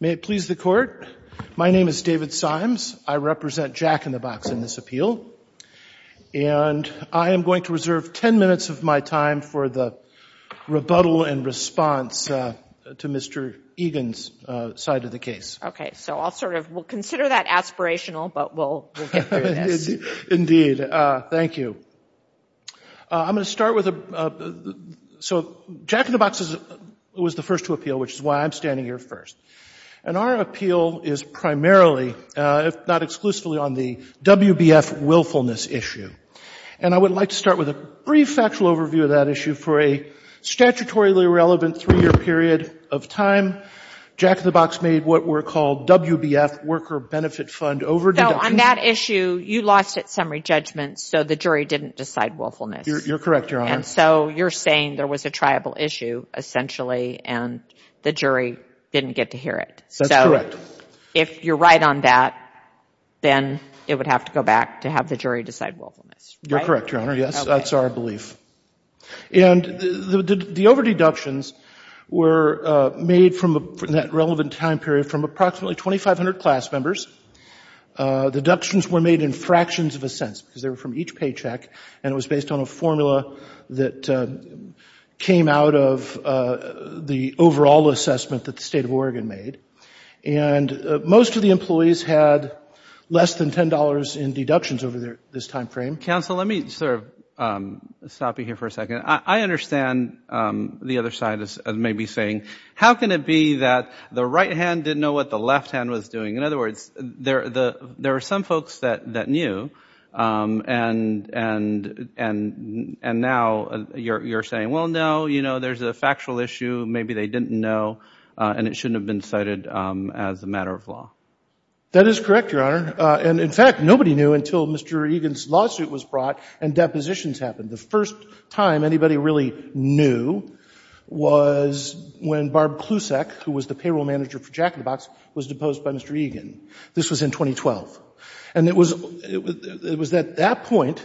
May it please the court, my name is David Symes. I represent Jack in the Box in this appeal, and I am going to reserve 10 minutes of my time for the rebuttal and response to Mr. Egan's side of the case. Okay, so I'll sort of, we'll consider that aspirational, but we'll get through this. Indeed, indeed. Thank you. I'm going to start with, so Jack in the Box was the first to appeal, which is why I'm standing here first. And our appeal is primarily, if not exclusively, on the WBF willfulness issue. And I would like to start with a brief factual overview of that issue. For a statutorily relevant three-year period of time, Jack in the Box made what were called WBF, Worker Benefit Fund, overdue. So on that issue, you lost it summary judgment, so the jury didn't decide willfulness. You're correct, Your Honor. And so you're saying there was a triable issue, essentially, and the jury didn't get to hear it. That's correct. So if you're right on that, then it would have to go back to have the jury decide willfulness. You're correct, Your Honor. Yes, that's our belief. And the overdeductions were made from that relevant time period from approximately 2,500 class members. Deductions were made in fractions of a cent because they were from each paycheck, and it was based on a formula that came out of the overall assessment that the State of Oregon made. And most of the employees had less than $10 in deductions over this time frame. Counsel, let me sort of stop you here for a second. I understand the other side is maybe saying, how can it be that the right hand didn't know what the left hand was doing? In other words, there are some folks that knew, and now you're saying, well, no, you know, there's a factual issue. Maybe they didn't know, and it shouldn't have been cited as a matter of law. That is correct, Your Honor. And, in fact, nobody knew until Mr. Egan's lawsuit was brought and depositions happened. The first time anybody really knew was when Barb Klusak, who was the payroll manager for Jack in the Box, was deposed by Mr. Egan. This was in 2012. And it was at that point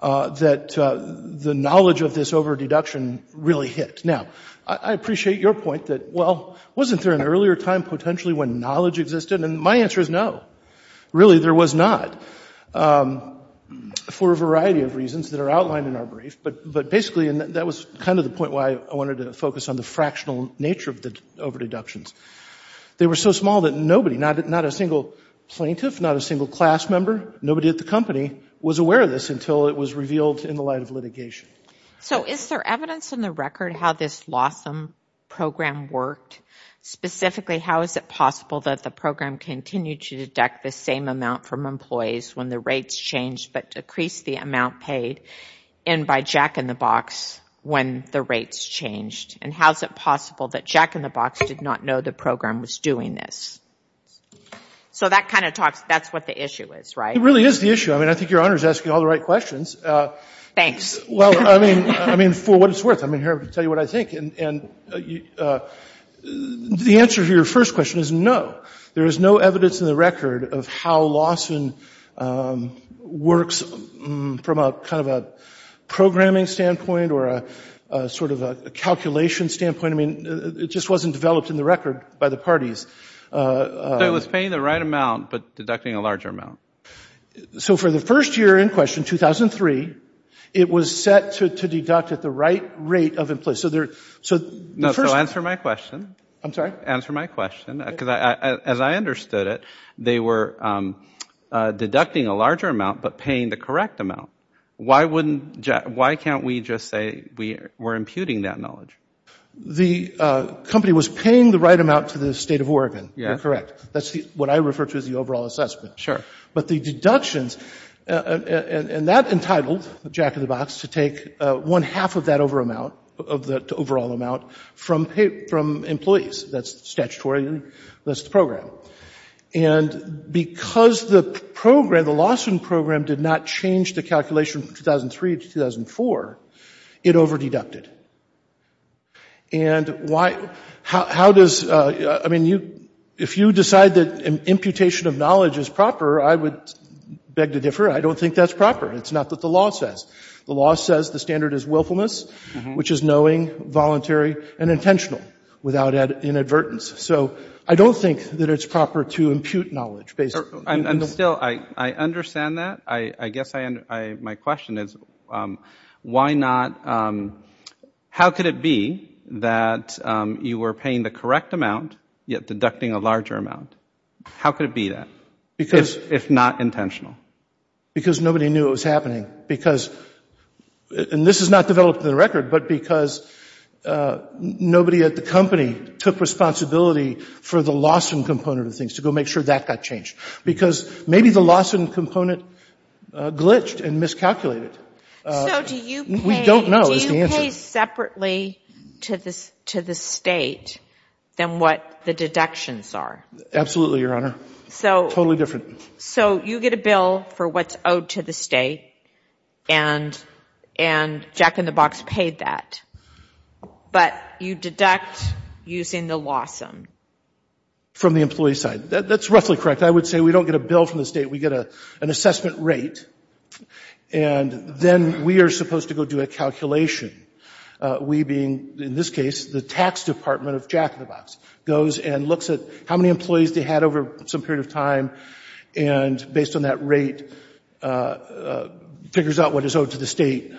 that the knowledge of this overdeduction really hit. Now, I appreciate your point that, well, wasn't there an earlier time potentially when knowledge existed? And my answer is no. Really, there was not for a variety of reasons that are outlined in our brief. But basically, and that was kind of the point why I wanted to focus on the fractional nature of the overdeductions, they were so small that nobody, not a single plaintiff, not a single class member, nobody at the company, was aware of this until it was revealed in the light of litigation. So is there evidence in the record how this Lawsome program worked? Specifically, how is it possible that the program continued to deduct the same amount from employees when the rates changed but decreased the amount paid in by Jack in the Box when the rates changed? And how is it possible that Jack in the Box did not know the program was doing this? So that kind of talks, that's what the issue is, right? It really is the issue. I mean, I think Your Honor is asking all the right questions. Thanks. Well, I mean, for what it's worth, I'm here to tell you what I think. And the answer to your first question is no. There is no evidence in the record of how Lawson works from a kind of a programming standpoint or a sort of a calculation standpoint. I mean, it just wasn't developed in the record by the parties. So it was paying the right amount but deducting a larger amount. So for the first year in question, 2003, it was set to deduct at the right rate of employees. So answer my question. I'm sorry? Answer my question. Because as I understood it, they were deducting a larger amount but paying the correct amount. Why can't we just say we're imputing that knowledge? The company was paying the right amount to the State of Oregon. You're correct. That's what I refer to as the overall assessment. Sure. But the deductions, and that entitled Jack of the Box to take one-half of that overall amount from employees. That's statutory. That's the program. And because the program, the Lawson program, did not change the calculation from 2003 to 2004, it over-deducted. And how does, I mean, if you decide that imputation of knowledge is proper, I would beg to differ. I don't think that's proper. It's not what the law says. The law says the standard is willfulness, which is knowing, voluntary, and intentional without inadvertence. So I don't think that it's proper to impute knowledge. And still, I understand that. I guess my question is, how could it be that you were paying the correct amount yet deducting a larger amount? How could it be that, if not intentional? Because nobody knew it was happening. And this is not developed in the record, but because nobody at the company took responsibility for the Lawson component of things to go make sure that got changed. Because maybe the Lawson component glitched and miscalculated. So do you pay separately to the state than what the deductions are? Absolutely, Your Honor. Totally different. So you get a bill for what's owed to the state, and Jack in the Box paid that. But you deduct using the Lawson. From the employee side. That's roughly correct. I would say we don't get a bill from the state. We get an assessment rate. And then we are supposed to go do a calculation. We being, in this case, the tax department of Jack in the Box, goes and looks at how many employees they had over some period of time, and based on that rate, figures out what is owed to the state.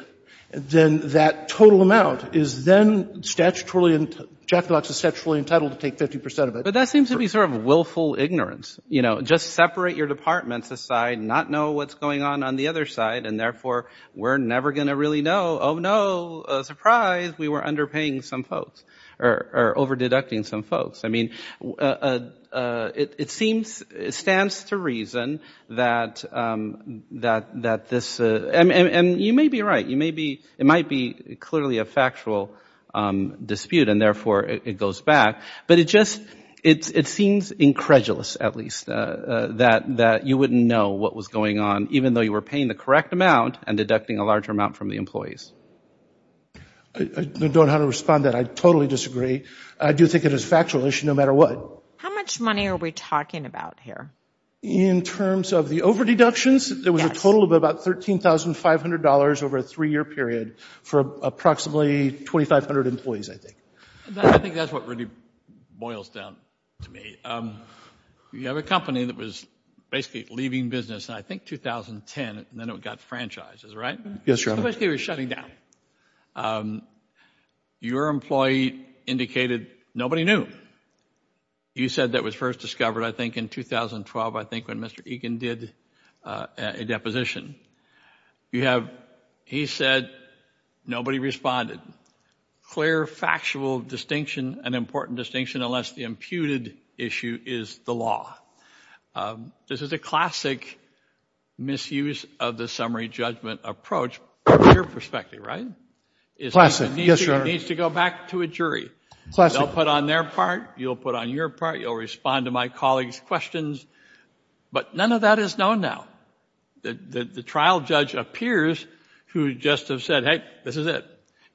Then that total amount is then statutorily, Jack in the Box is statutorily entitled to take 50% of it. But that seems to be sort of willful ignorance. You know, just separate your departments aside, not know what's going on on the other side, and therefore we're never going to really know, oh, no, surprise, we were underpaying some folks, or over-deducting some folks. I mean, it seems, it stands to reason that this, and you may be right. You may be, it might be clearly a factual dispute, and therefore it goes back. But it just, it seems incredulous, at least, that you wouldn't know what was going on, even though you were paying the correct amount and deducting a larger amount from the employees. I don't know how to respond to that. I totally disagree. I do think it is a factual issue, no matter what. How much money are we talking about here? In terms of the over-deductions, there was a total of about $13,500 over a three-year period for approximately 2,500 employees, I think. I think that's what really boils down to me. You have a company that was basically leaving business in, I think, 2010, and then it got franchised, is that right? Yes, Your Honor. So basically it was shutting down. Your employee indicated nobody knew. You said that was first discovered, I think, in 2012, I think, when Mr. Egan did a deposition. You have, he said nobody responded. Clear factual distinction, an important distinction, unless the imputed issue is the law. This is a classic misuse of the summary judgment approach from your perspective, right? Classic, yes, Your Honor. It needs to go back to a jury. Classic. They'll put on their part, you'll put on your part, you'll respond to my colleagues' questions, but none of that is known now. The trial judge appears to just have said, hey, this is it,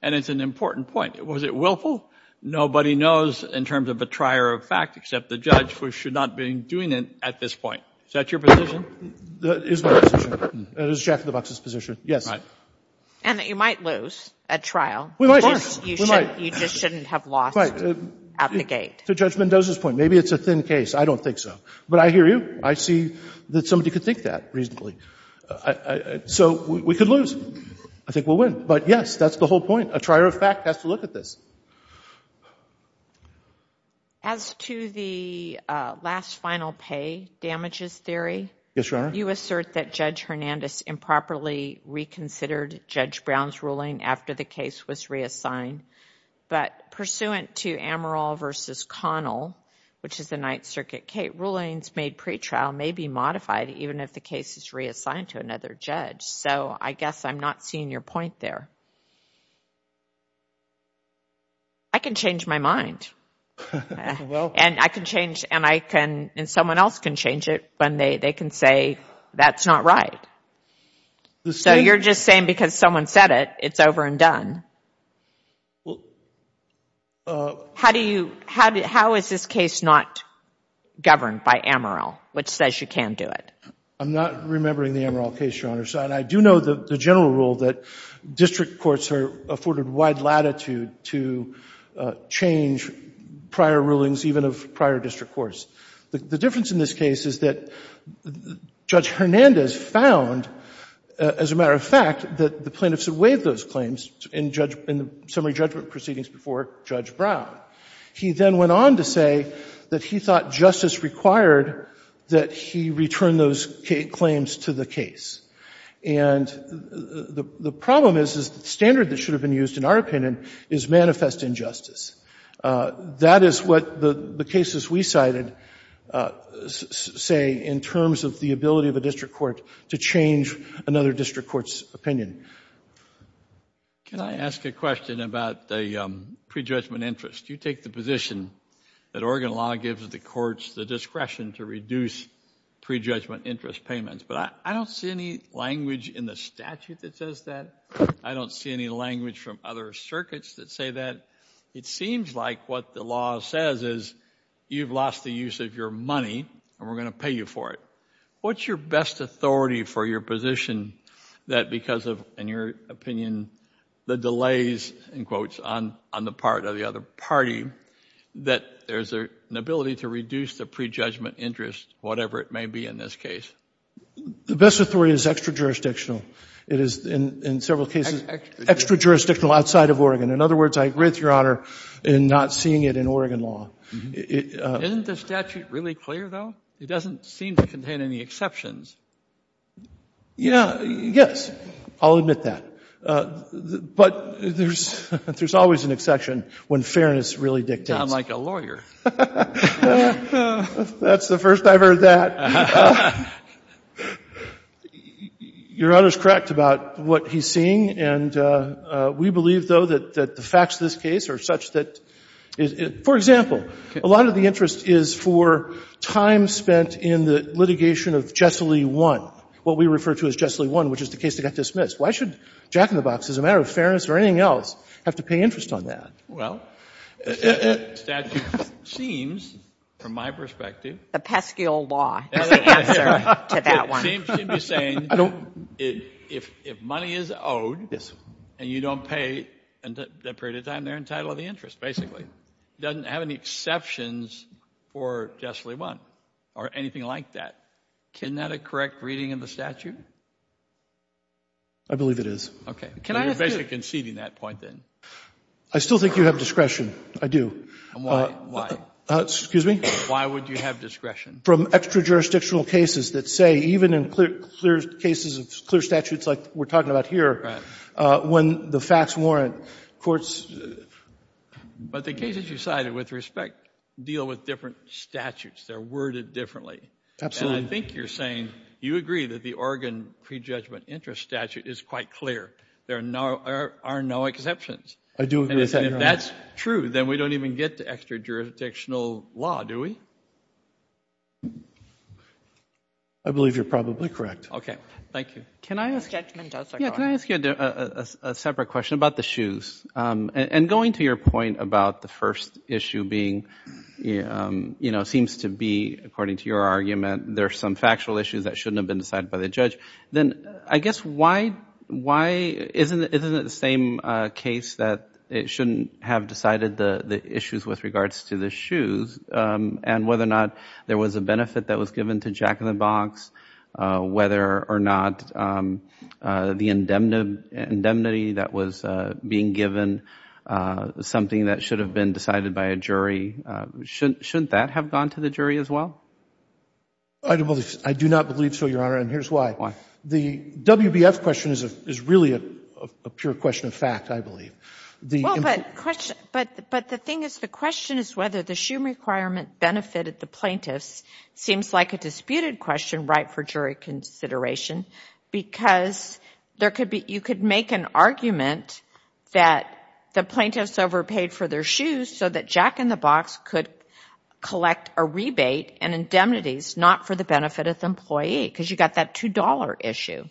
and it's an important point. Was it willful? Nobody knows in terms of a trier of fact, except the judge, who should not be doing it at this point. Is that your position? That is my position. That is Jack Lebox's position, yes. And that you might lose at trial. Of course. You just shouldn't have lost at the gate. To Judge Mendoza's point, maybe it's a thin case. I don't think so. But I hear you. I see that somebody could think that reasonably. So we could lose. I think we'll win. But, yes, that's the whole point. A trier of fact has to look at this. As to the last final pay damages theory, you assert that Judge Hernandez improperly reconsidered Judge Brown's ruling after the case was reassigned, but pursuant to Amaral v. Connell, which is the Ninth Circuit case, rulings made pretrial may be modified, even if the case is reassigned to another judge. So I guess I'm not seeing your point there. I can change my mind. And I can change and someone else can change it when they can say that's not right. So you're just saying because someone said it, it's over and done. How is this case not governed by Amaral, which says you can do it? I'm not remembering the Amaral case, Your Honor. And I do know the general rule that district courts are afforded wide latitude to change prior rulings, even of prior district courts. The difference in this case is that Judge Hernandez found, as a matter of fact, that the plaintiffs had waived those claims in the summary judgment proceedings before Judge Brown. He then went on to say that he thought justice required that he return those claims to the case. And the problem is, is the standard that should have been used, in our opinion, is manifest injustice. That is what the cases we cited say in terms of the ability of a district court to change another district court's opinion. Can I ask a question about the prejudgment interest? You take the position that Oregon law gives the courts the discretion to reduce prejudgment interest payments. But I don't see any language in the statute that says that. I don't see any language from other circuits that say that. It seems like what the law says is you've lost the use of your money and we're going to pay you for it. What's your best authority for your position that because of, in your opinion, the delays, in quotes, on the part of the other party, that there's an ability to reduce the prejudgment interest, whatever it may be in this case? The best authority is extra-jurisdictional. It is, in several cases, extra-jurisdictional outside of Oregon. In other words, I agree with Your Honor in not seeing it in Oregon law. Isn't the statute really clear, though? It doesn't seem to contain any exceptions. I'll admit that. But there's always an exception when fairness really dictates. You sound like a lawyer. That's the first I've heard that. Your Honor is correct about what he's seeing, and we believe, though, that the facts of this case are such that, for example, a lot of the interest is for time spent in the litigation of Jessilee 1, what we refer to as Jessilee 1, which is the case that got dismissed. Why should Jack in the Box, as a matter of fairness or anything else, have to pay interest on that? Well, the statute seems, from my perspective. A pesky old law is the answer to that one. It seems to be saying if money is owed, and you don't pay that period of time, they're entitled to the interest, basically. It doesn't have any exceptions for Jessilee 1 or anything like that. Isn't that a correct reading of the statute? I believe it is. Okay. You're basically conceding that point, then. I still think you have discretion. I do. Why? Excuse me? Why would you have discretion? From extra-jurisdictional cases that say, even in clear cases of clear statutes like we're talking about here, when the facts warrant, courts — But the cases you cited, with respect, deal with different statutes. They're worded differently. Absolutely. And I think you're saying you agree that the Oregon prejudgment interest statute is quite clear. There are no exceptions. I do agree with that. And if that's true, then we don't even get to extra-jurisdictional law, do we? I believe you're probably correct. Okay. Thank you. Can I ask you a separate question about the shoes? And going to your point about the first issue being, you know, seems to be, according to your argument, there are some factual issues that shouldn't have been decided by the judge, then I guess why isn't it the same case that it shouldn't have decided the issues with regards to the shoes, and whether or not there was a benefit that was given to Jack in the Box, whether or not the indemnity that was being given, something that should have been decided by a jury, shouldn't that have gone to the jury as well? I do not believe so, Your Honor, and here's why. Why? The WBF question is really a pure question of fact, I believe. Well, but the thing is, the question is whether the shoe requirement benefited the plaintiffs seems like a disputed question right for jury consideration, because you could make an argument that the plaintiffs overpaid for their shoes so that Jack in the Box could collect a rebate and indemnities not for the benefit of the employee, because you've got that $2 issue.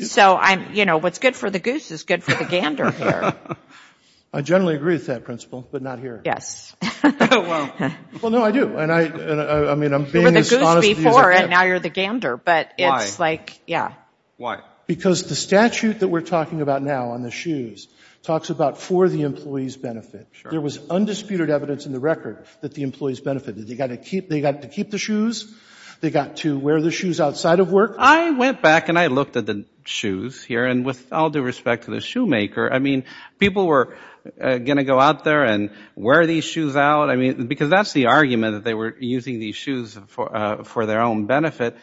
So, you know, what's good for the goose is good for the gander here. I generally agree with that principle, but not here. Well, no, I do. You were the goose before and now you're the gander, but it's like, yeah. Why? Because the statute that we're talking about now on the shoes talks about for the employee's benefit. There was undisputed evidence in the record that the employees benefited. They got to keep the shoes. They got to wear the shoes outside of work. I went back and I looked at the shoes here, and with all due respect to the shoemaker, I mean, people were going to go out there and wear these shoes out, I mean, because that's the argument that they were using these shoes for their own benefit.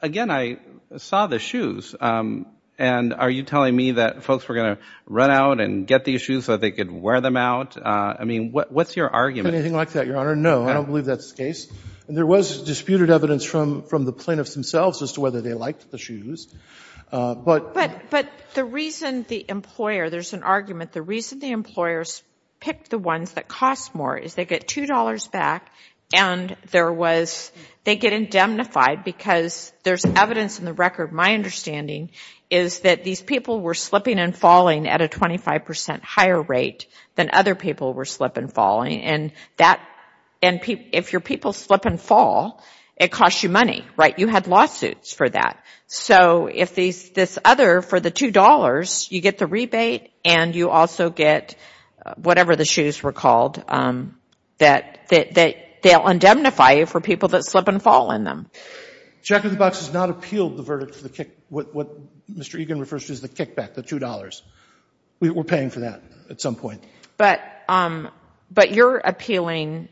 Again, I saw the shoes, and are you telling me that folks were going to run out and get these shoes so that they could wear them out? I mean, what's your argument? Anything like that, Your Honor. No, I don't believe that's the case. There was disputed evidence from the plaintiffs themselves as to whether they liked the shoes. But the reason the employer, there's an argument, the reason the employers picked the ones that cost more is they get $2 back and they get indemnified because there's evidence in the record, my understanding, is that these people were slipping and falling at a 25 percent higher rate than other people were slipping and falling. And if your people slip and fall, it costs you money, right? You had lawsuits for that. So if this other, for the $2, you get the rebate, and you also get whatever the shoes were called, that they'll indemnify you for people that slip and fall in them. Jack of the Box has not appealed the verdict for the kick, what Mr. Egan refers to as the kickback, the $2. We're paying for that at some point. But you're appealing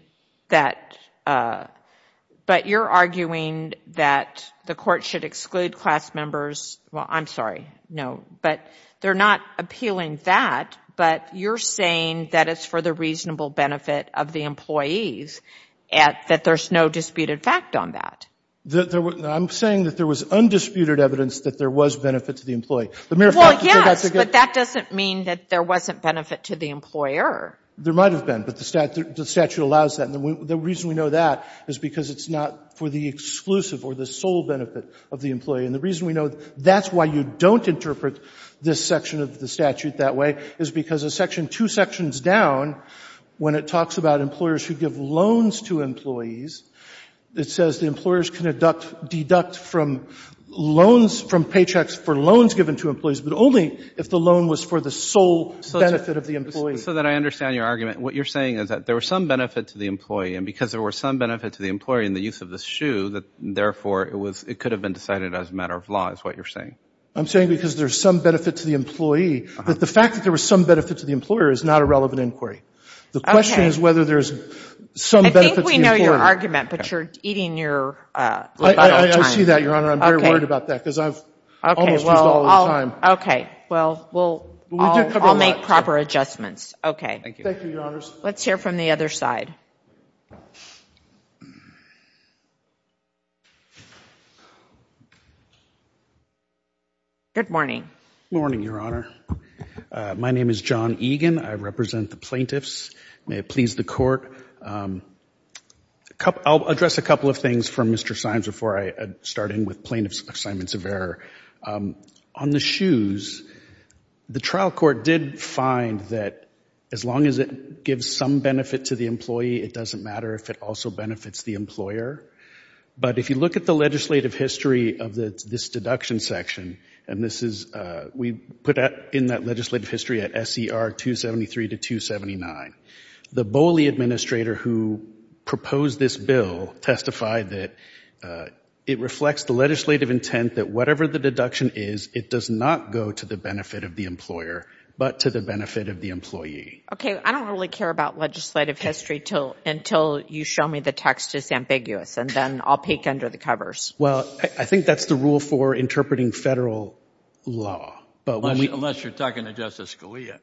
that, but you're arguing that the court should exclude class members, well, I'm sorry, no, but they're not appealing that, but you're saying that it's for the reasonable benefit of the employees, that there's no disputed fact on that. I'm saying that there was undisputed evidence that there was benefit to the employee. Well, yes, but that doesn't mean that there wasn't benefit to the employer. There might have been, but the statute allows that. And the reason we know that is because it's not for the exclusive or the sole benefit of the employee. And the reason we know that's why you don't interpret this section of the statute that way is because a section two sections down, when it talks about employers who give loans to employees, it says the employers can deduct from loans, from paychecks for loans given to employees, but only if the loan was for the sole benefit of the employee. So that I understand your argument. What you're saying is that there was some benefit to the employee, and because there was some benefit to the employee in the use of the shoe, therefore it could have been decided as a matter of law is what you're saying. I'm saying because there's some benefit to the employee, but the fact that there was some benefit to the employer is not a relevant inquiry. The question is whether there's some benefit to the employer. I think we know your argument, but you're eating your time. I see that, Your Honor. I'm very worried about that because I've almost used all this time. Okay. Well, I'll make proper adjustments. Okay. Thank you, Your Honors. Let's hear from the other side. Good morning. Good morning, Your Honor. My name is John Egan. I represent the plaintiffs. May it please the Court. I'll address a couple of things from Mr. Symes before I start in with plaintiff's assignments of error. On the shoes, the trial court did find that as long as it gives some benefit to the employee, it doesn't matter if it also benefits the employer. But if you look at the legislative history of this deduction section, we put that in that legislative history at SCR 273 to 279. The Boley administrator who proposed this bill testified that it reflects the legislative intent that whatever the deduction is, it does not go to the benefit of the employer, but to the benefit of the employee. Okay. I don't really care about legislative history until you show me the text is ambiguous, and then I'll peek under the covers. Well, I think that's the rule for interpreting federal law. Unless you're talking to Justice Scalia.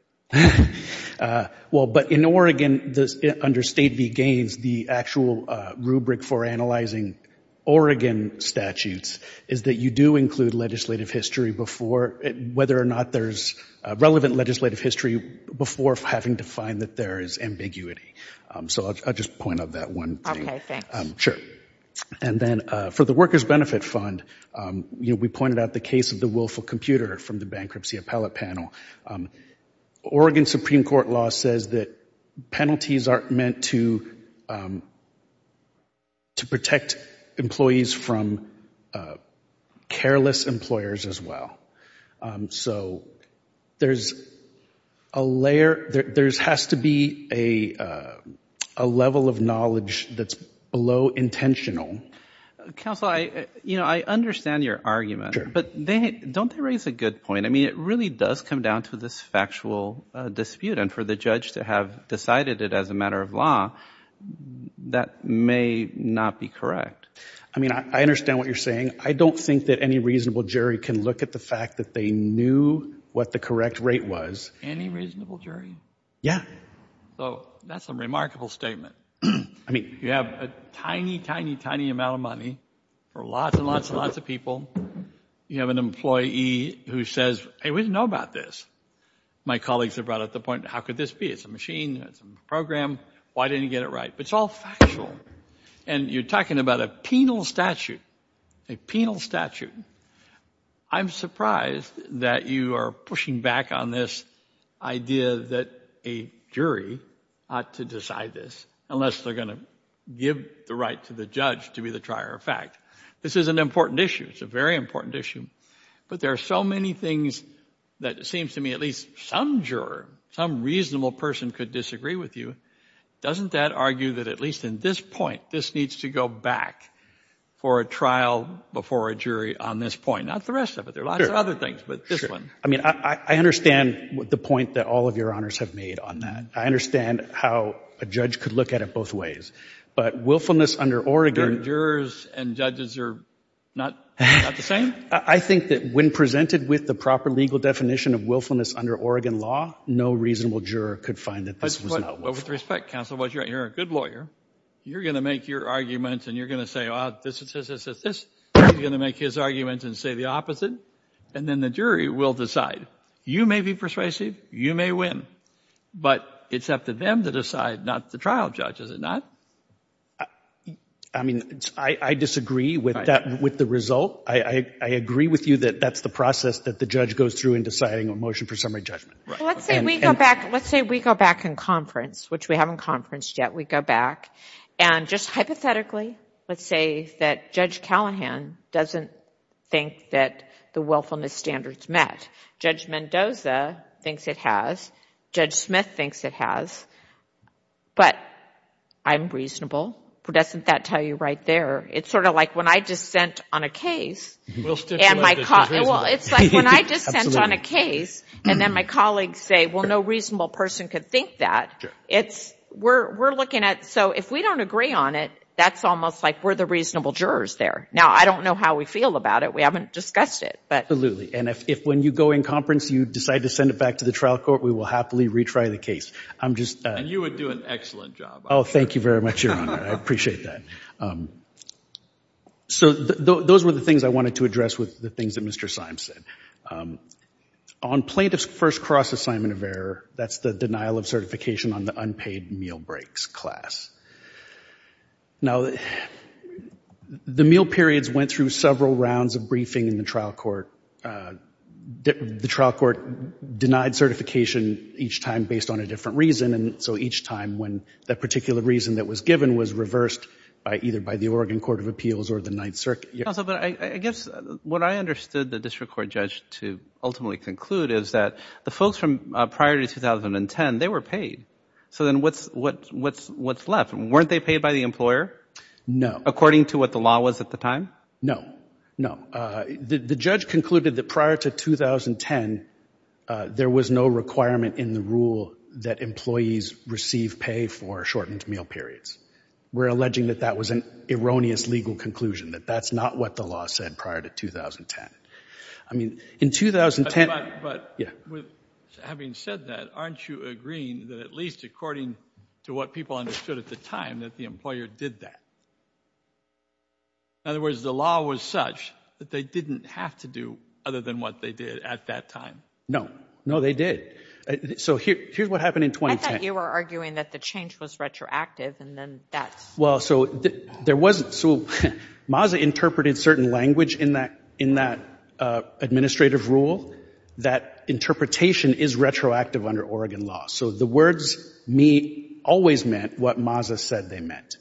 Well, but in Oregon, under State v. Gaines, the actual rubric for analyzing Oregon statutes is that you do include legislative history whether or not there's relevant legislative history before having to find that there is ambiguity. So I'll just point out that one thing. Okay, thanks. Sure. And then for the Workers' Benefit Fund, we pointed out the case of the willful computer from the bankruptcy appellate panel. Oregon Supreme Court law says that penalties aren't meant to protect employees from careless employers as well. So there has to be a level of knowledge that's below intentional. Counsel, I understand your argument, but don't they raise a good point? I mean, it really does come down to this factual dispute, and for the judge to have decided it as a matter of law, that may not be correct. I mean, I understand what you're saying. I don't think that any reasonable jury can look at the fact that they knew what the correct rate was. Any reasonable jury? Yeah. So that's a remarkable statement. I mean, you have a tiny, tiny, tiny amount of money for lots and lots and lots of people. You have an employee who says, hey, we didn't know about this. My colleagues have brought up the point, how could this be? It's a machine. It's a program. Why didn't he get it right? But it's all factual. And you're talking about a penal statute, a penal statute. I'm surprised that you are pushing back on this idea that a jury ought to decide this, unless they're going to give the right to the judge to be the trier of fact. This is an important issue. It's a very important issue. But there are so many things that it seems to me at least some juror, some reasonable person could disagree with you. Doesn't that argue that at least in this point, this needs to go back for a trial before a jury on this point? Not the rest of it. There are lots of other things, but this one. I mean, I understand the point that all of your honors have made on that. I understand how a judge could look at it both ways. But willfulness under Oregon. Jurors and judges are not the same? I think that when presented with the proper legal definition of willfulness under Oregon law, no reasonable juror could find that this was not willfulness. But with respect, counsel, while you're a good lawyer, you're going to make your arguments and you're going to say, oh, this, this, this, this, this. You're going to make his arguments and say the opposite. And then the jury will decide. You may be persuasive. You may win. But it's up to them to decide, not the trial judge, is it not? I mean, I disagree with the result. I agree with you that that's the process that the judge goes through in deciding a motion for summary judgment. Well, let's say we go back in conference, which we haven't conferenced yet. We go back and just hypothetically let's say that Judge Callahan doesn't think that the willfulness standards met. Judge Mendoza thinks it has. Judge Smith thinks it has. But I'm reasonable. Doesn't that tell you right there? It's sort of like when I dissent on a case. Well, it's like when I dissent on a case and then my colleagues say, well, no reasonable person could think that. We're looking at, so if we don't agree on it, that's almost like we're the reasonable jurors there. Now, I don't know how we feel about it. We haven't discussed it. Absolutely. And if when you go in conference you decide to send it back to the trial court, we will happily retry the case. And you would do an excellent job. Oh, thank you very much, Your Honor. I appreciate that. So those were the things I wanted to address with the things that Mr. Symes said. On plaintiff's first cross-assignment of error, that's the denial of certification on the unpaid meal breaks class. Now, the meal periods went through several rounds of briefing in the trial court. The trial court denied certification each time based on a different reason, and so each time when that particular reason that was given was reversed either by the Oregon Court of Appeals or the Ninth Circuit. But I guess what I understood the district court judge to ultimately conclude is that the folks from prior to 2010, they were paid. So then what's left? Weren't they paid by the employer? No. According to what the law was at the time? No. No. The judge concluded that prior to 2010, there was no requirement in the rule that employees receive pay for shortened meal periods. We're alleging that that was an erroneous legal conclusion, that that's not what the law said prior to 2010. I mean, in 2010 — But having said that, aren't you agreeing that at least according to what people understood at the time, that the employer did that? In other words, the law was such that they didn't have to do other than what they did at that time. No. No, they did. So here's what happened in 2010. I thought you were arguing that the change was retroactive and then that's — Well, so there wasn't. So MASA interpreted certain language in that administrative rule, that interpretation is retroactive under Oregon law. So the words, me, always meant what MASA said they meant.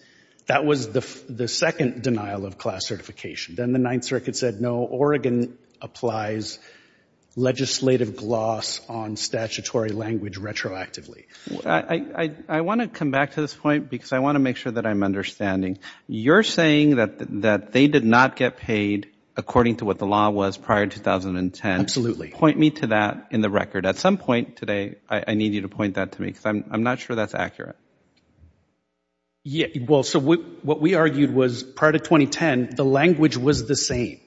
That was the second denial of class certification. Then the Ninth Circuit said, no, Oregon applies legislative gloss on statutory language retroactively. I want to come back to this point because I want to make sure that I'm understanding. You're saying that they did not get paid according to what the law was prior to 2010. Absolutely. Point me to that in the record. At some point today, I need you to point that to me because I'm not sure that's accurate. Yeah. Well, so what we argued was prior to 2010, the language was the same.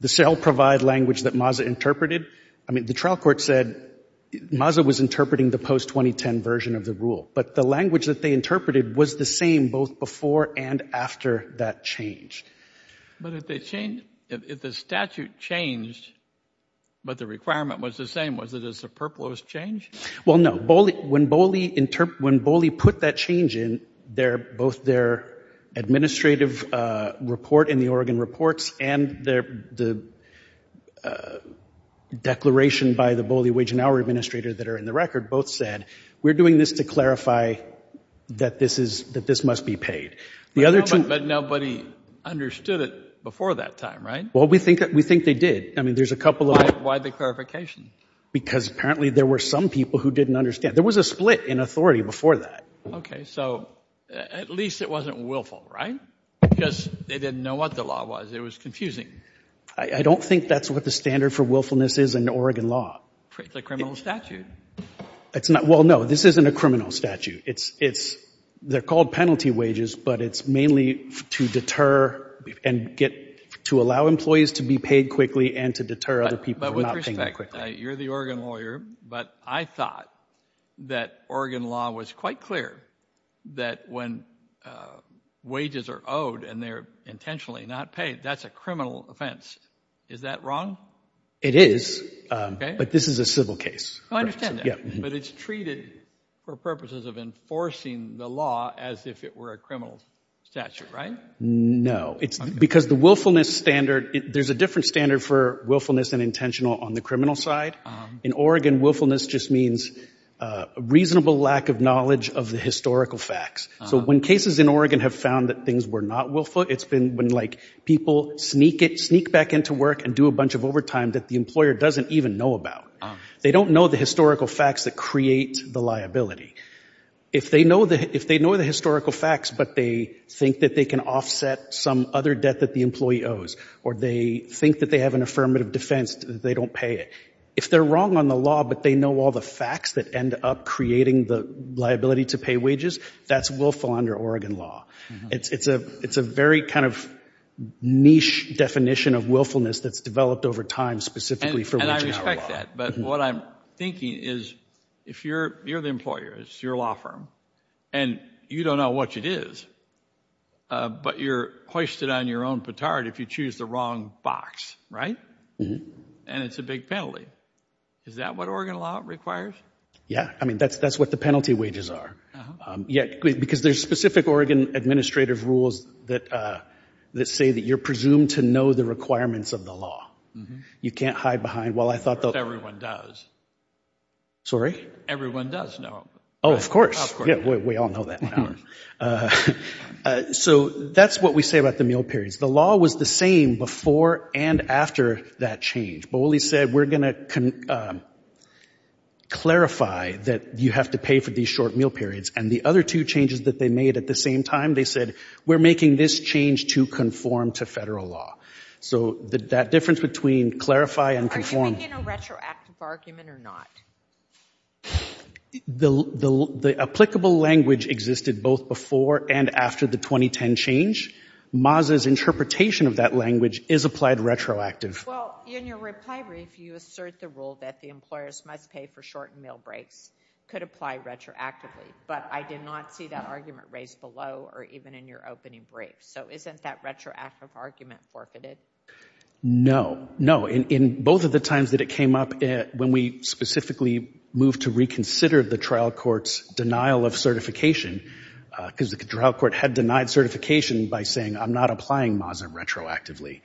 The cell-provide language that MASA interpreted, I mean, the trial court said MASA was interpreting the post-2010 version of the rule, but the language that they interpreted was the same both before and after that change. But if the statute changed but the requirement was the same, was it a superfluous change? Well, no. When Boley put that change in, both their administrative report in the Oregon reports and the declaration by the Boley Wage and Hour Administrator that are in the record both said, we're doing this to clarify that this must be paid. But nobody understood it before that time, right? Well, we think they did. I mean, there's a couple of— Why the clarification? Because apparently there were some people who didn't understand. There was a split in authority before that. Okay. So at least it wasn't willful, right? Because they didn't know what the law was. It was confusing. I don't think that's what the standard for willfulness is in Oregon law. It's a criminal statute. Well, no. This isn't a criminal statute. They're called penalty wages, but it's mainly to deter and get—to allow employees to be paid quickly and to deter other people from not paying them quickly. But with respect, you're the Oregon lawyer, but I thought that Oregon law was quite clear that when wages are owed and they're intentionally not paid, that's a criminal offense. Is that wrong? It is. Okay. But this is a civil case. I understand that. But it's treated for purposes of enforcing the law as if it were a criminal statute, right? No. Because the willfulness standard—there's a different standard for willfulness and intentional on the criminal side. In Oregon, willfulness just means reasonable lack of knowledge of the historical facts. So when cases in Oregon have found that things were not willful, it's been when, like, people sneak back into work and do a bunch of overtime that the employer doesn't even know about. They don't know the historical facts that create the liability. If they know the historical facts but they think that they can offset some other debt that the employee owes or they think that they have an affirmative defense that they don't pay it, if they're wrong on the law but they know all the facts that end up creating the liability to pay wages, that's willful under Oregon law. It's a very kind of niche definition of willfulness that's developed over time specifically for— I respect that, but what I'm thinking is if you're the employer, it's your law firm, and you don't know what it is, but you're hoisted on your own petard if you choose the wrong box, right? And it's a big penalty. Is that what Oregon law requires? Yeah. I mean, that's what the penalty wages are. Because there's specific Oregon administrative rules that say that you're presumed to know the requirements of the law. You can't hide behind, well, I thought that— Everyone does. Sorry? Everyone does know. Oh, of course. Of course. We all know that. So that's what we say about the meal periods. The law was the same before and after that change. Boley said, we're going to clarify that you have to pay for these short meal periods. And the other two changes that they made at the same time, they said, we're making this change to conform to federal law. So that difference between clarify and conform— Are you making a retroactive argument or not? The applicable language existed both before and after the 2010 change. MASA's interpretation of that language is applied retroactive. Well, in your reply brief, you assert the rule that the employers must pay for short meal breaks. It could apply retroactively. But I did not see that argument raised below or even in your opening brief. So isn't that retroactive argument forfeited? No. In both of the times that it came up, when we specifically moved to reconsider the trial court's denial of certification, because the trial court had denied certification by saying, I'm not applying MASA retroactively.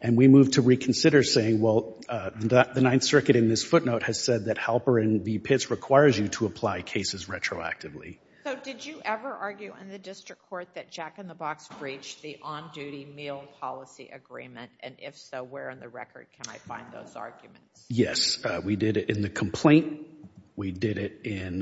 And we moved to reconsider saying, well, the Ninth Circuit in this footnote has said that Halper and v. Pitts requires you to apply cases retroactively. So did you ever argue in the district court that Jack in the Box breached the on-duty meal policy agreement? And if so, where in the record can I find those arguments? Yes. We did it in the complaint. We did it in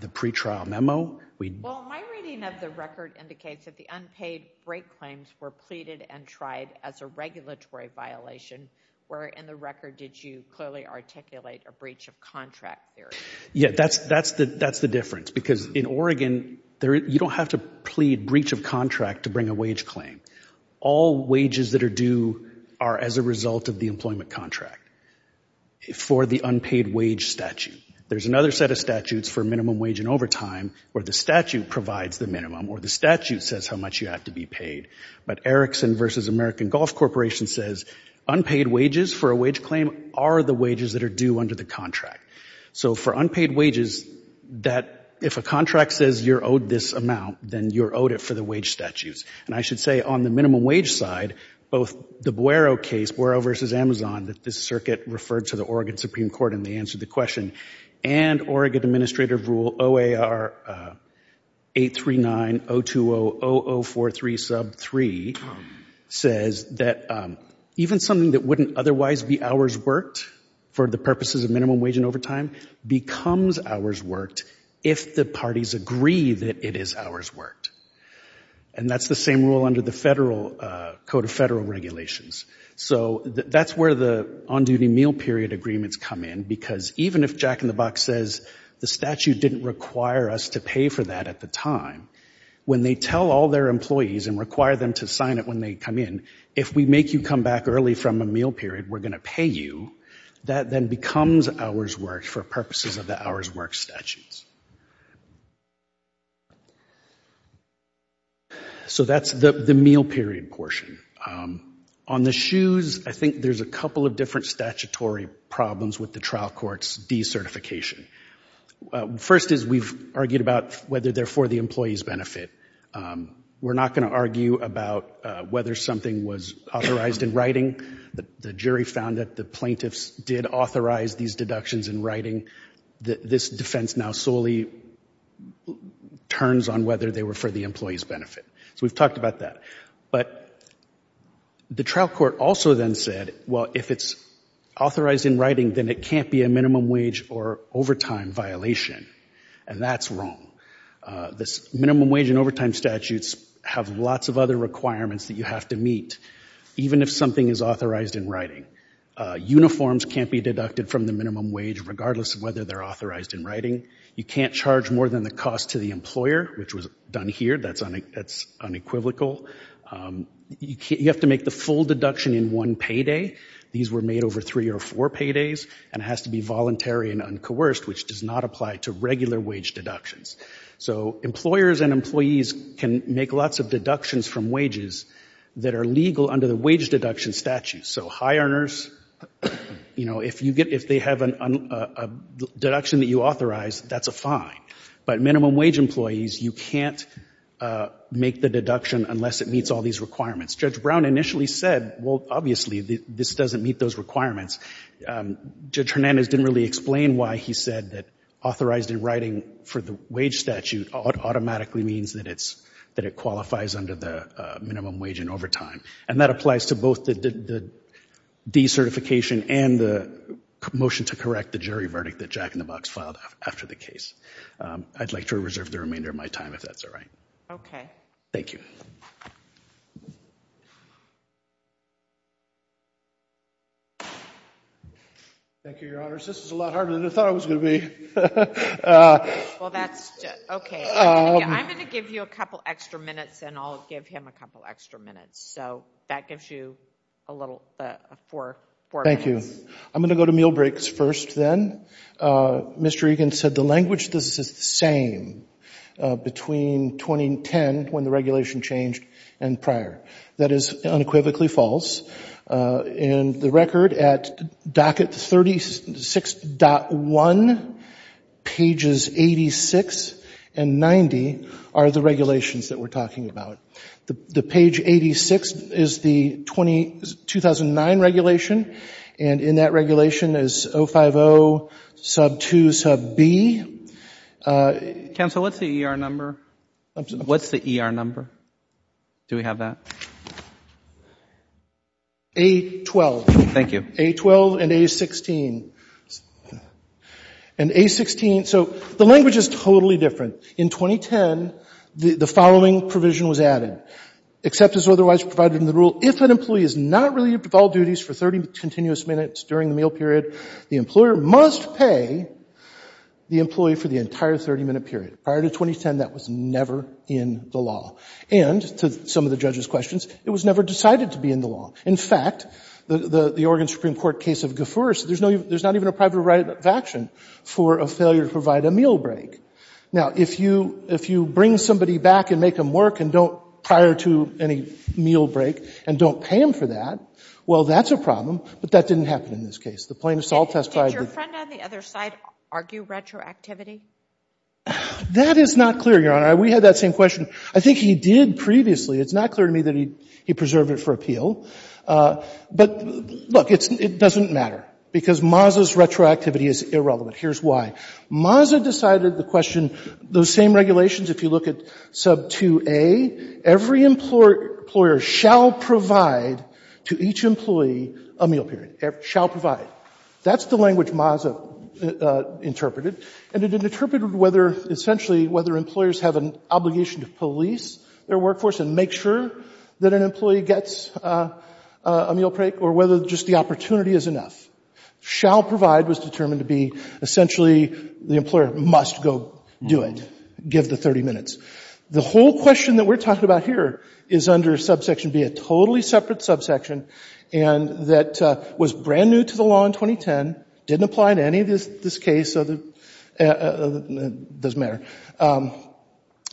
the pretrial memo. Well, my reading of the record indicates that the unpaid break claims were pleaded and tried as a regulatory violation. Where in the record did you clearly articulate a breach of contract theory? Yeah, that's the difference. Because in Oregon, you don't have to plead breach of contract to bring a wage claim. All wages that are due are as a result of the employment contract for the unpaid wage statute. There's another set of statutes for minimum wage and overtime where the statute provides the minimum or the statute says how much you have to be paid. But Erickson v. American Golf Corporation says unpaid wages for a wage claim are the wages that are due under the contract. So for unpaid wages, if a contract says you're owed this amount, then you're owed it for the wage statutes. And I should say on the minimum wage side, both the Buero case, Buero v. Amazon, that this circuit referred to the Oregon Supreme Court and they answered the question, and Oregon Administrative Rule OAR 839-020-0043 sub 3 says that even something that wouldn't otherwise be hours worked for the purposes of minimum wage and overtime becomes hours worked if the parties agree that it is hours worked. And that's the same rule under the Federal Code of Federal Regulations. So that's where the on-duty meal period agreements come in because even if Jack in the Box says the statute didn't require us to pay for that at the time, when they tell all their employees and require them to sign it when they come in, if we make you come back early from a meal period, we're going to pay you, that then becomes hours worked for purposes of the hours worked statutes. So that's the meal period portion. On the shoes, I think there's a couple of different statutory problems with the trial court's decertification. First is we've argued about whether they're for the employee's benefit. We're not going to argue about whether something was authorized in writing. The jury found that the plaintiffs did authorize these deductions in writing. This defense now solely turns on whether they were for the employee's benefit. So we've talked about that. But the trial court also then said, well, if it's authorized in writing, then it can't be a minimum wage or overtime violation. And that's wrong. The minimum wage and overtime statutes have lots of other requirements that you have to meet, even if something is authorized in writing. Uniforms can't be deducted from the minimum wage, regardless of whether they're authorized in writing. You can't charge more than the cost to the employer, which was done here. That's unequivocal. You have to make the full deduction in one payday. These were made over three or four paydays. And it has to be voluntary and uncoerced, which does not apply to regular wage deductions. So employers and employees can make lots of deductions from wages that are legal under the wage deduction statute. So high earners, if they have a deduction that you authorize, that's a fine. But minimum wage employees, you can't make the deduction unless it meets all these requirements. Judge Brown initially said, well, obviously, this doesn't meet those requirements. Judge Hernandez didn't really explain why he said that authorized in writing for the wage statute automatically means that it qualifies under the minimum wage and overtime. And that applies to both the decertification and the motion to correct the jury verdict that Jack in the Box filed after the case. I'd like to reserve the remainder of my time, if that's all right. Okay. Thank you. Thank you, Your Honors. This is a lot harder than I thought it was going to be. Well, that's okay. I'm going to give you a couple extra minutes, and I'll give him a couple extra minutes. So that gives you a little, four minutes. Thank you. I'm going to go to meal breaks first, then. Mr. Egan said the language is the same between 2010, when the regulation changed, and prior. That is unequivocally false. In the record at docket 36.1, pages 86 and 90 are the regulations that we're talking about. The page 86 is the 2009 regulation, and in that regulation is 050, sub 2, sub B. Counsel, what's the ER number? What's the ER number? Do we have that? A12. Thank you. A12 and A16. And A16, so the language is totally different. In 2010, the following provision was added. Except as otherwise provided in the rule, if an employee is not relieved of all duties for 30 continuous minutes during the meal period, the employer must pay the employee for the entire 30-minute period. Prior to 2010, that was never in the law. And, to some of the judge's questions, it was never decided to be in the law. In fact, the Oregon Supreme Court case of Gaffuris, there's not even a private right of action for a failure to provide a meal break. Now, if you bring somebody back and make them work and don't, prior to any meal break, and don't pay them for that, well, that's a problem, but that didn't happen in this case. The plaintiff's all testified. Did your friend on the other side argue retroactivity? That is not clear, Your Honor. We had that same question. I think he did previously. It's not clear to me that he preserved it for appeal. But, look, it doesn't matter because Maza's retroactivity is irrelevant. Here's why. Maza decided the question, those same regulations, if you look at sub 2A, every employer shall provide to each employee a meal period, shall provide. That's the language Maza interpreted. And it interpreted whether, essentially, whether employers have an obligation to police their workforce and make sure that an employee gets a meal break, or whether just the opportunity is enough. Shall provide was determined to be, essentially, the employer must go do it, give the 30 minutes. The whole question that we're talking about here is under subsection B, a totally separate subsection, and that was brand new to the law in 2010, didn't apply to any of this case, doesn't matter.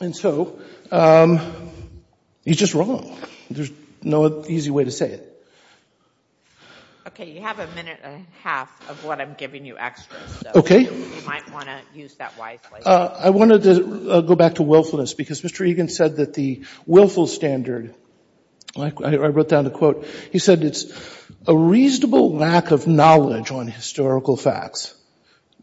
And so, he's just wrong. There's no easy way to say it. Okay, you have a minute and a half of what I'm giving you extra. Okay. You might want to use that wisely. I wanted to go back to willfulness because Mr. Egan said that the willful standard, I wrote down a quote, he said it's a reasonable lack of knowledge on historical facts,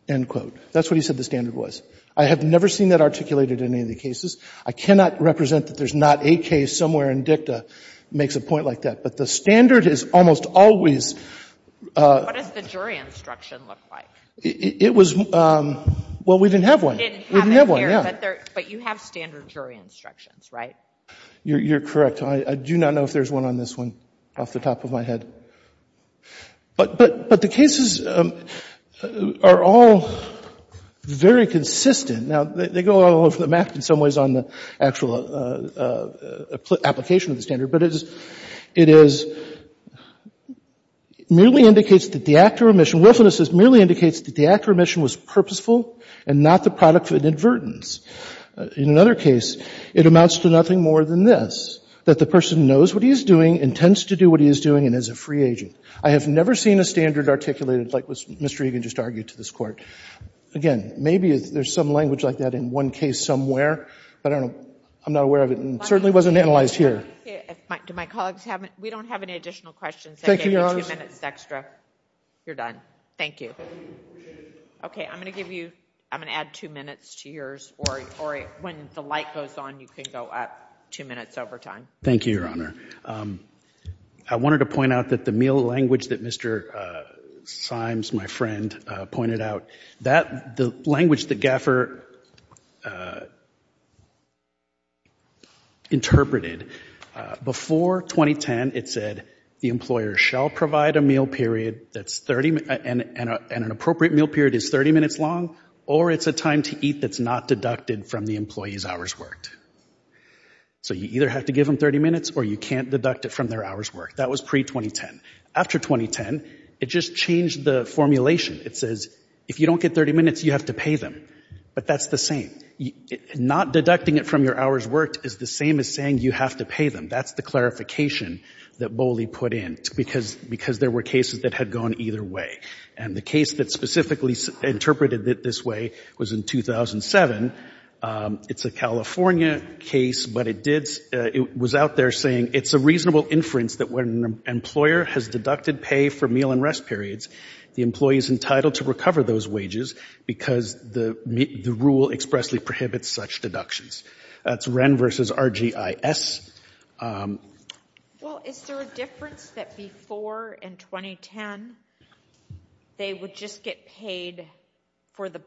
end quote. That's what he said the standard was. I have never seen that articulated in any of the cases. I cannot represent that there's not a case somewhere in dicta that makes a point like that. But the standard is almost always. What does the jury instruction look like? It was, well, we didn't have one. We didn't have one, yeah. But you have standard jury instructions, right? You're correct. I do not know if there's one on this one off the top of my head. But the cases are all very consistent. Now, they go all over the map in some ways on the actual application of the standard. But it is merely indicates that the act of remission, willfulness merely indicates that the act of remission was purposeful and not the product of inadvertence. In another case, it amounts to nothing more than this, that the person knows what he is doing and tends to do what he is doing and is a free agent. I have never seen a standard articulated like what Mr. Egan just argued to this Court. Again, maybe there's some language like that in one case somewhere. But I don't know. I'm not aware of it. It certainly wasn't analyzed here. Do my colleagues have any? We don't have any additional questions. Thank you, Your Honor. I gave you two minutes extra. You're done. Thank you. Okay. I'm going to give you, I'm going to add two minutes to yours. Or when the light goes on, you can go up two minutes over time. Thank you, Your Honor. I wanted to point out that the meal language that Mr. Symes, my friend, pointed out, the language that GAFR interpreted before 2010, it said, the employer shall provide a meal period and an appropriate meal period is 30 minutes long or it's a time to eat that's not deducted from the employee's hours worked. So you either have to give them 30 minutes or you can't deduct it from their hours worked. That was pre-2010. After 2010, it just changed the formulation. It says, if you don't get 30 minutes, you have to pay them. But that's the same. Not deducting it from your hours worked is the same as saying you have to pay them. That's the clarification that Boley put in because there were cases that had gone either way. And the case that specifically interpreted it this way was in 2007. It's a California case, but it was out there saying, it's a reasonable inference that when an employer has deducted pay for meal and rest periods, the employee is entitled to recover those wages because the rule expressly prohibits such deductions. That's Wren v. RGIS. Well, is there a difference that before in 2010, they would just get paid for the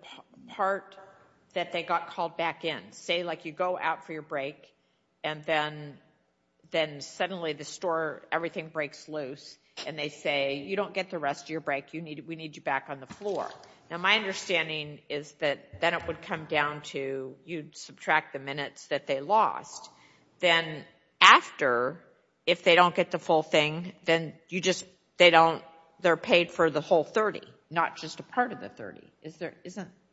part that they got called back in? Say, like, you go out for your break, and then suddenly the store, everything breaks loose, and they say, you don't get the rest of your break. We need you back on the floor. Now, my understanding is that then it would come down to you subtract the minutes that they lost. Then after, if they don't get the full thing, then they're paid for the whole 30, not just a part of the 30.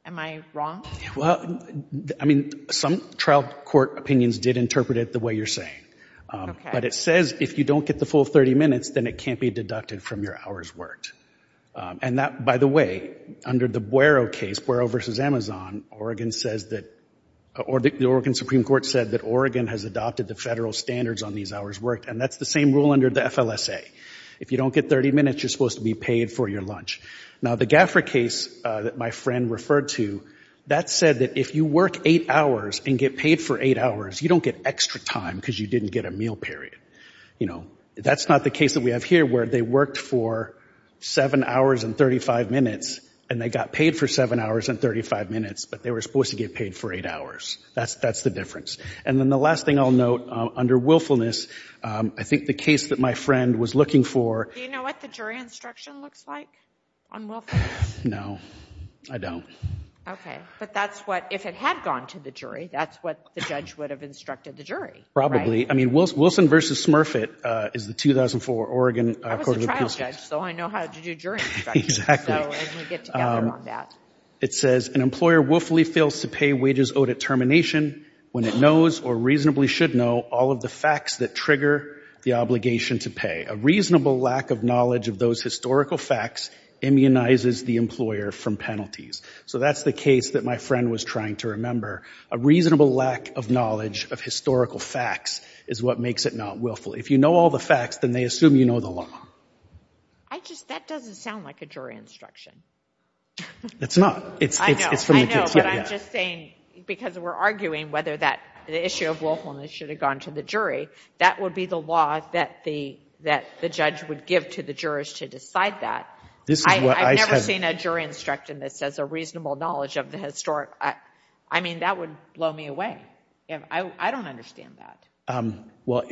Am I wrong? Well, I mean, some trial court opinions did interpret it the way you're saying. Okay. But it says if you don't get the full 30 minutes, then it can't be deducted from your hours worked. And that, by the way, under the Buero case, Buero v. Amazon, the Oregon Supreme Court said that Oregon has adopted the federal standards on these hours worked, and that's the same rule under the FLSA. If you don't get 30 minutes, you're supposed to be paid for your lunch. Now, the GAFRA case that my friend referred to, that said that if you work 8 hours and get paid for 8 hours, you don't get extra time because you didn't get a meal period. You know, that's not the case that we have here where they worked for 7 hours and 35 minutes, and they got paid for 7 hours and 35 minutes, but they were supposed to get paid for 8 hours. That's the difference. And then the last thing I'll note, under willfulness, I think the case that my friend was looking for. Do you know what the jury instruction looks like on willfulness? No, I don't. Okay. But that's what, if it had gone to the jury, that's what the judge would have instructed the jury, right? Probably. I mean, Wilson v. Smurfett is the 2004 Oregon Court of Appeals. I was a trial judge, so I know how to do jury instructions. Exactly. So as we get together on that. It says, an employer willfully fails to pay wages owed at termination when it knows or reasonably should know all of the facts that trigger the obligation to pay. A reasonable lack of knowledge of those historical facts immunizes the employer from penalties. So that's the case that my friend was trying to remember. A reasonable lack of knowledge of historical facts is what makes it not willful. If you know all the facts, then they assume you know the law. That doesn't sound like a jury instruction. It's not. I know, but I'm just saying because we're arguing whether the issue of willfulness should have gone to the jury, that would be the law that the judge would give to the jurors to decide that. I've never seen a jury instruction that says a reasonable knowledge of the historic. I mean, that would blow me away. I don't understand that. Well,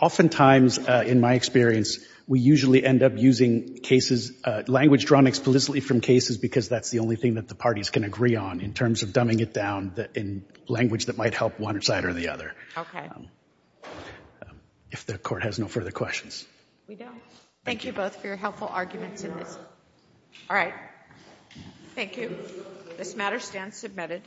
oftentimes in my experience, we usually end up using cases, language drawn explicitly from cases because that's the only thing that the parties can agree on in terms of dumbing it down in language that might help one side or the other. Okay. If the Court has no further questions. We don't. Thank you both for your helpful arguments in this. All right. Thank you. This matter stands submitted.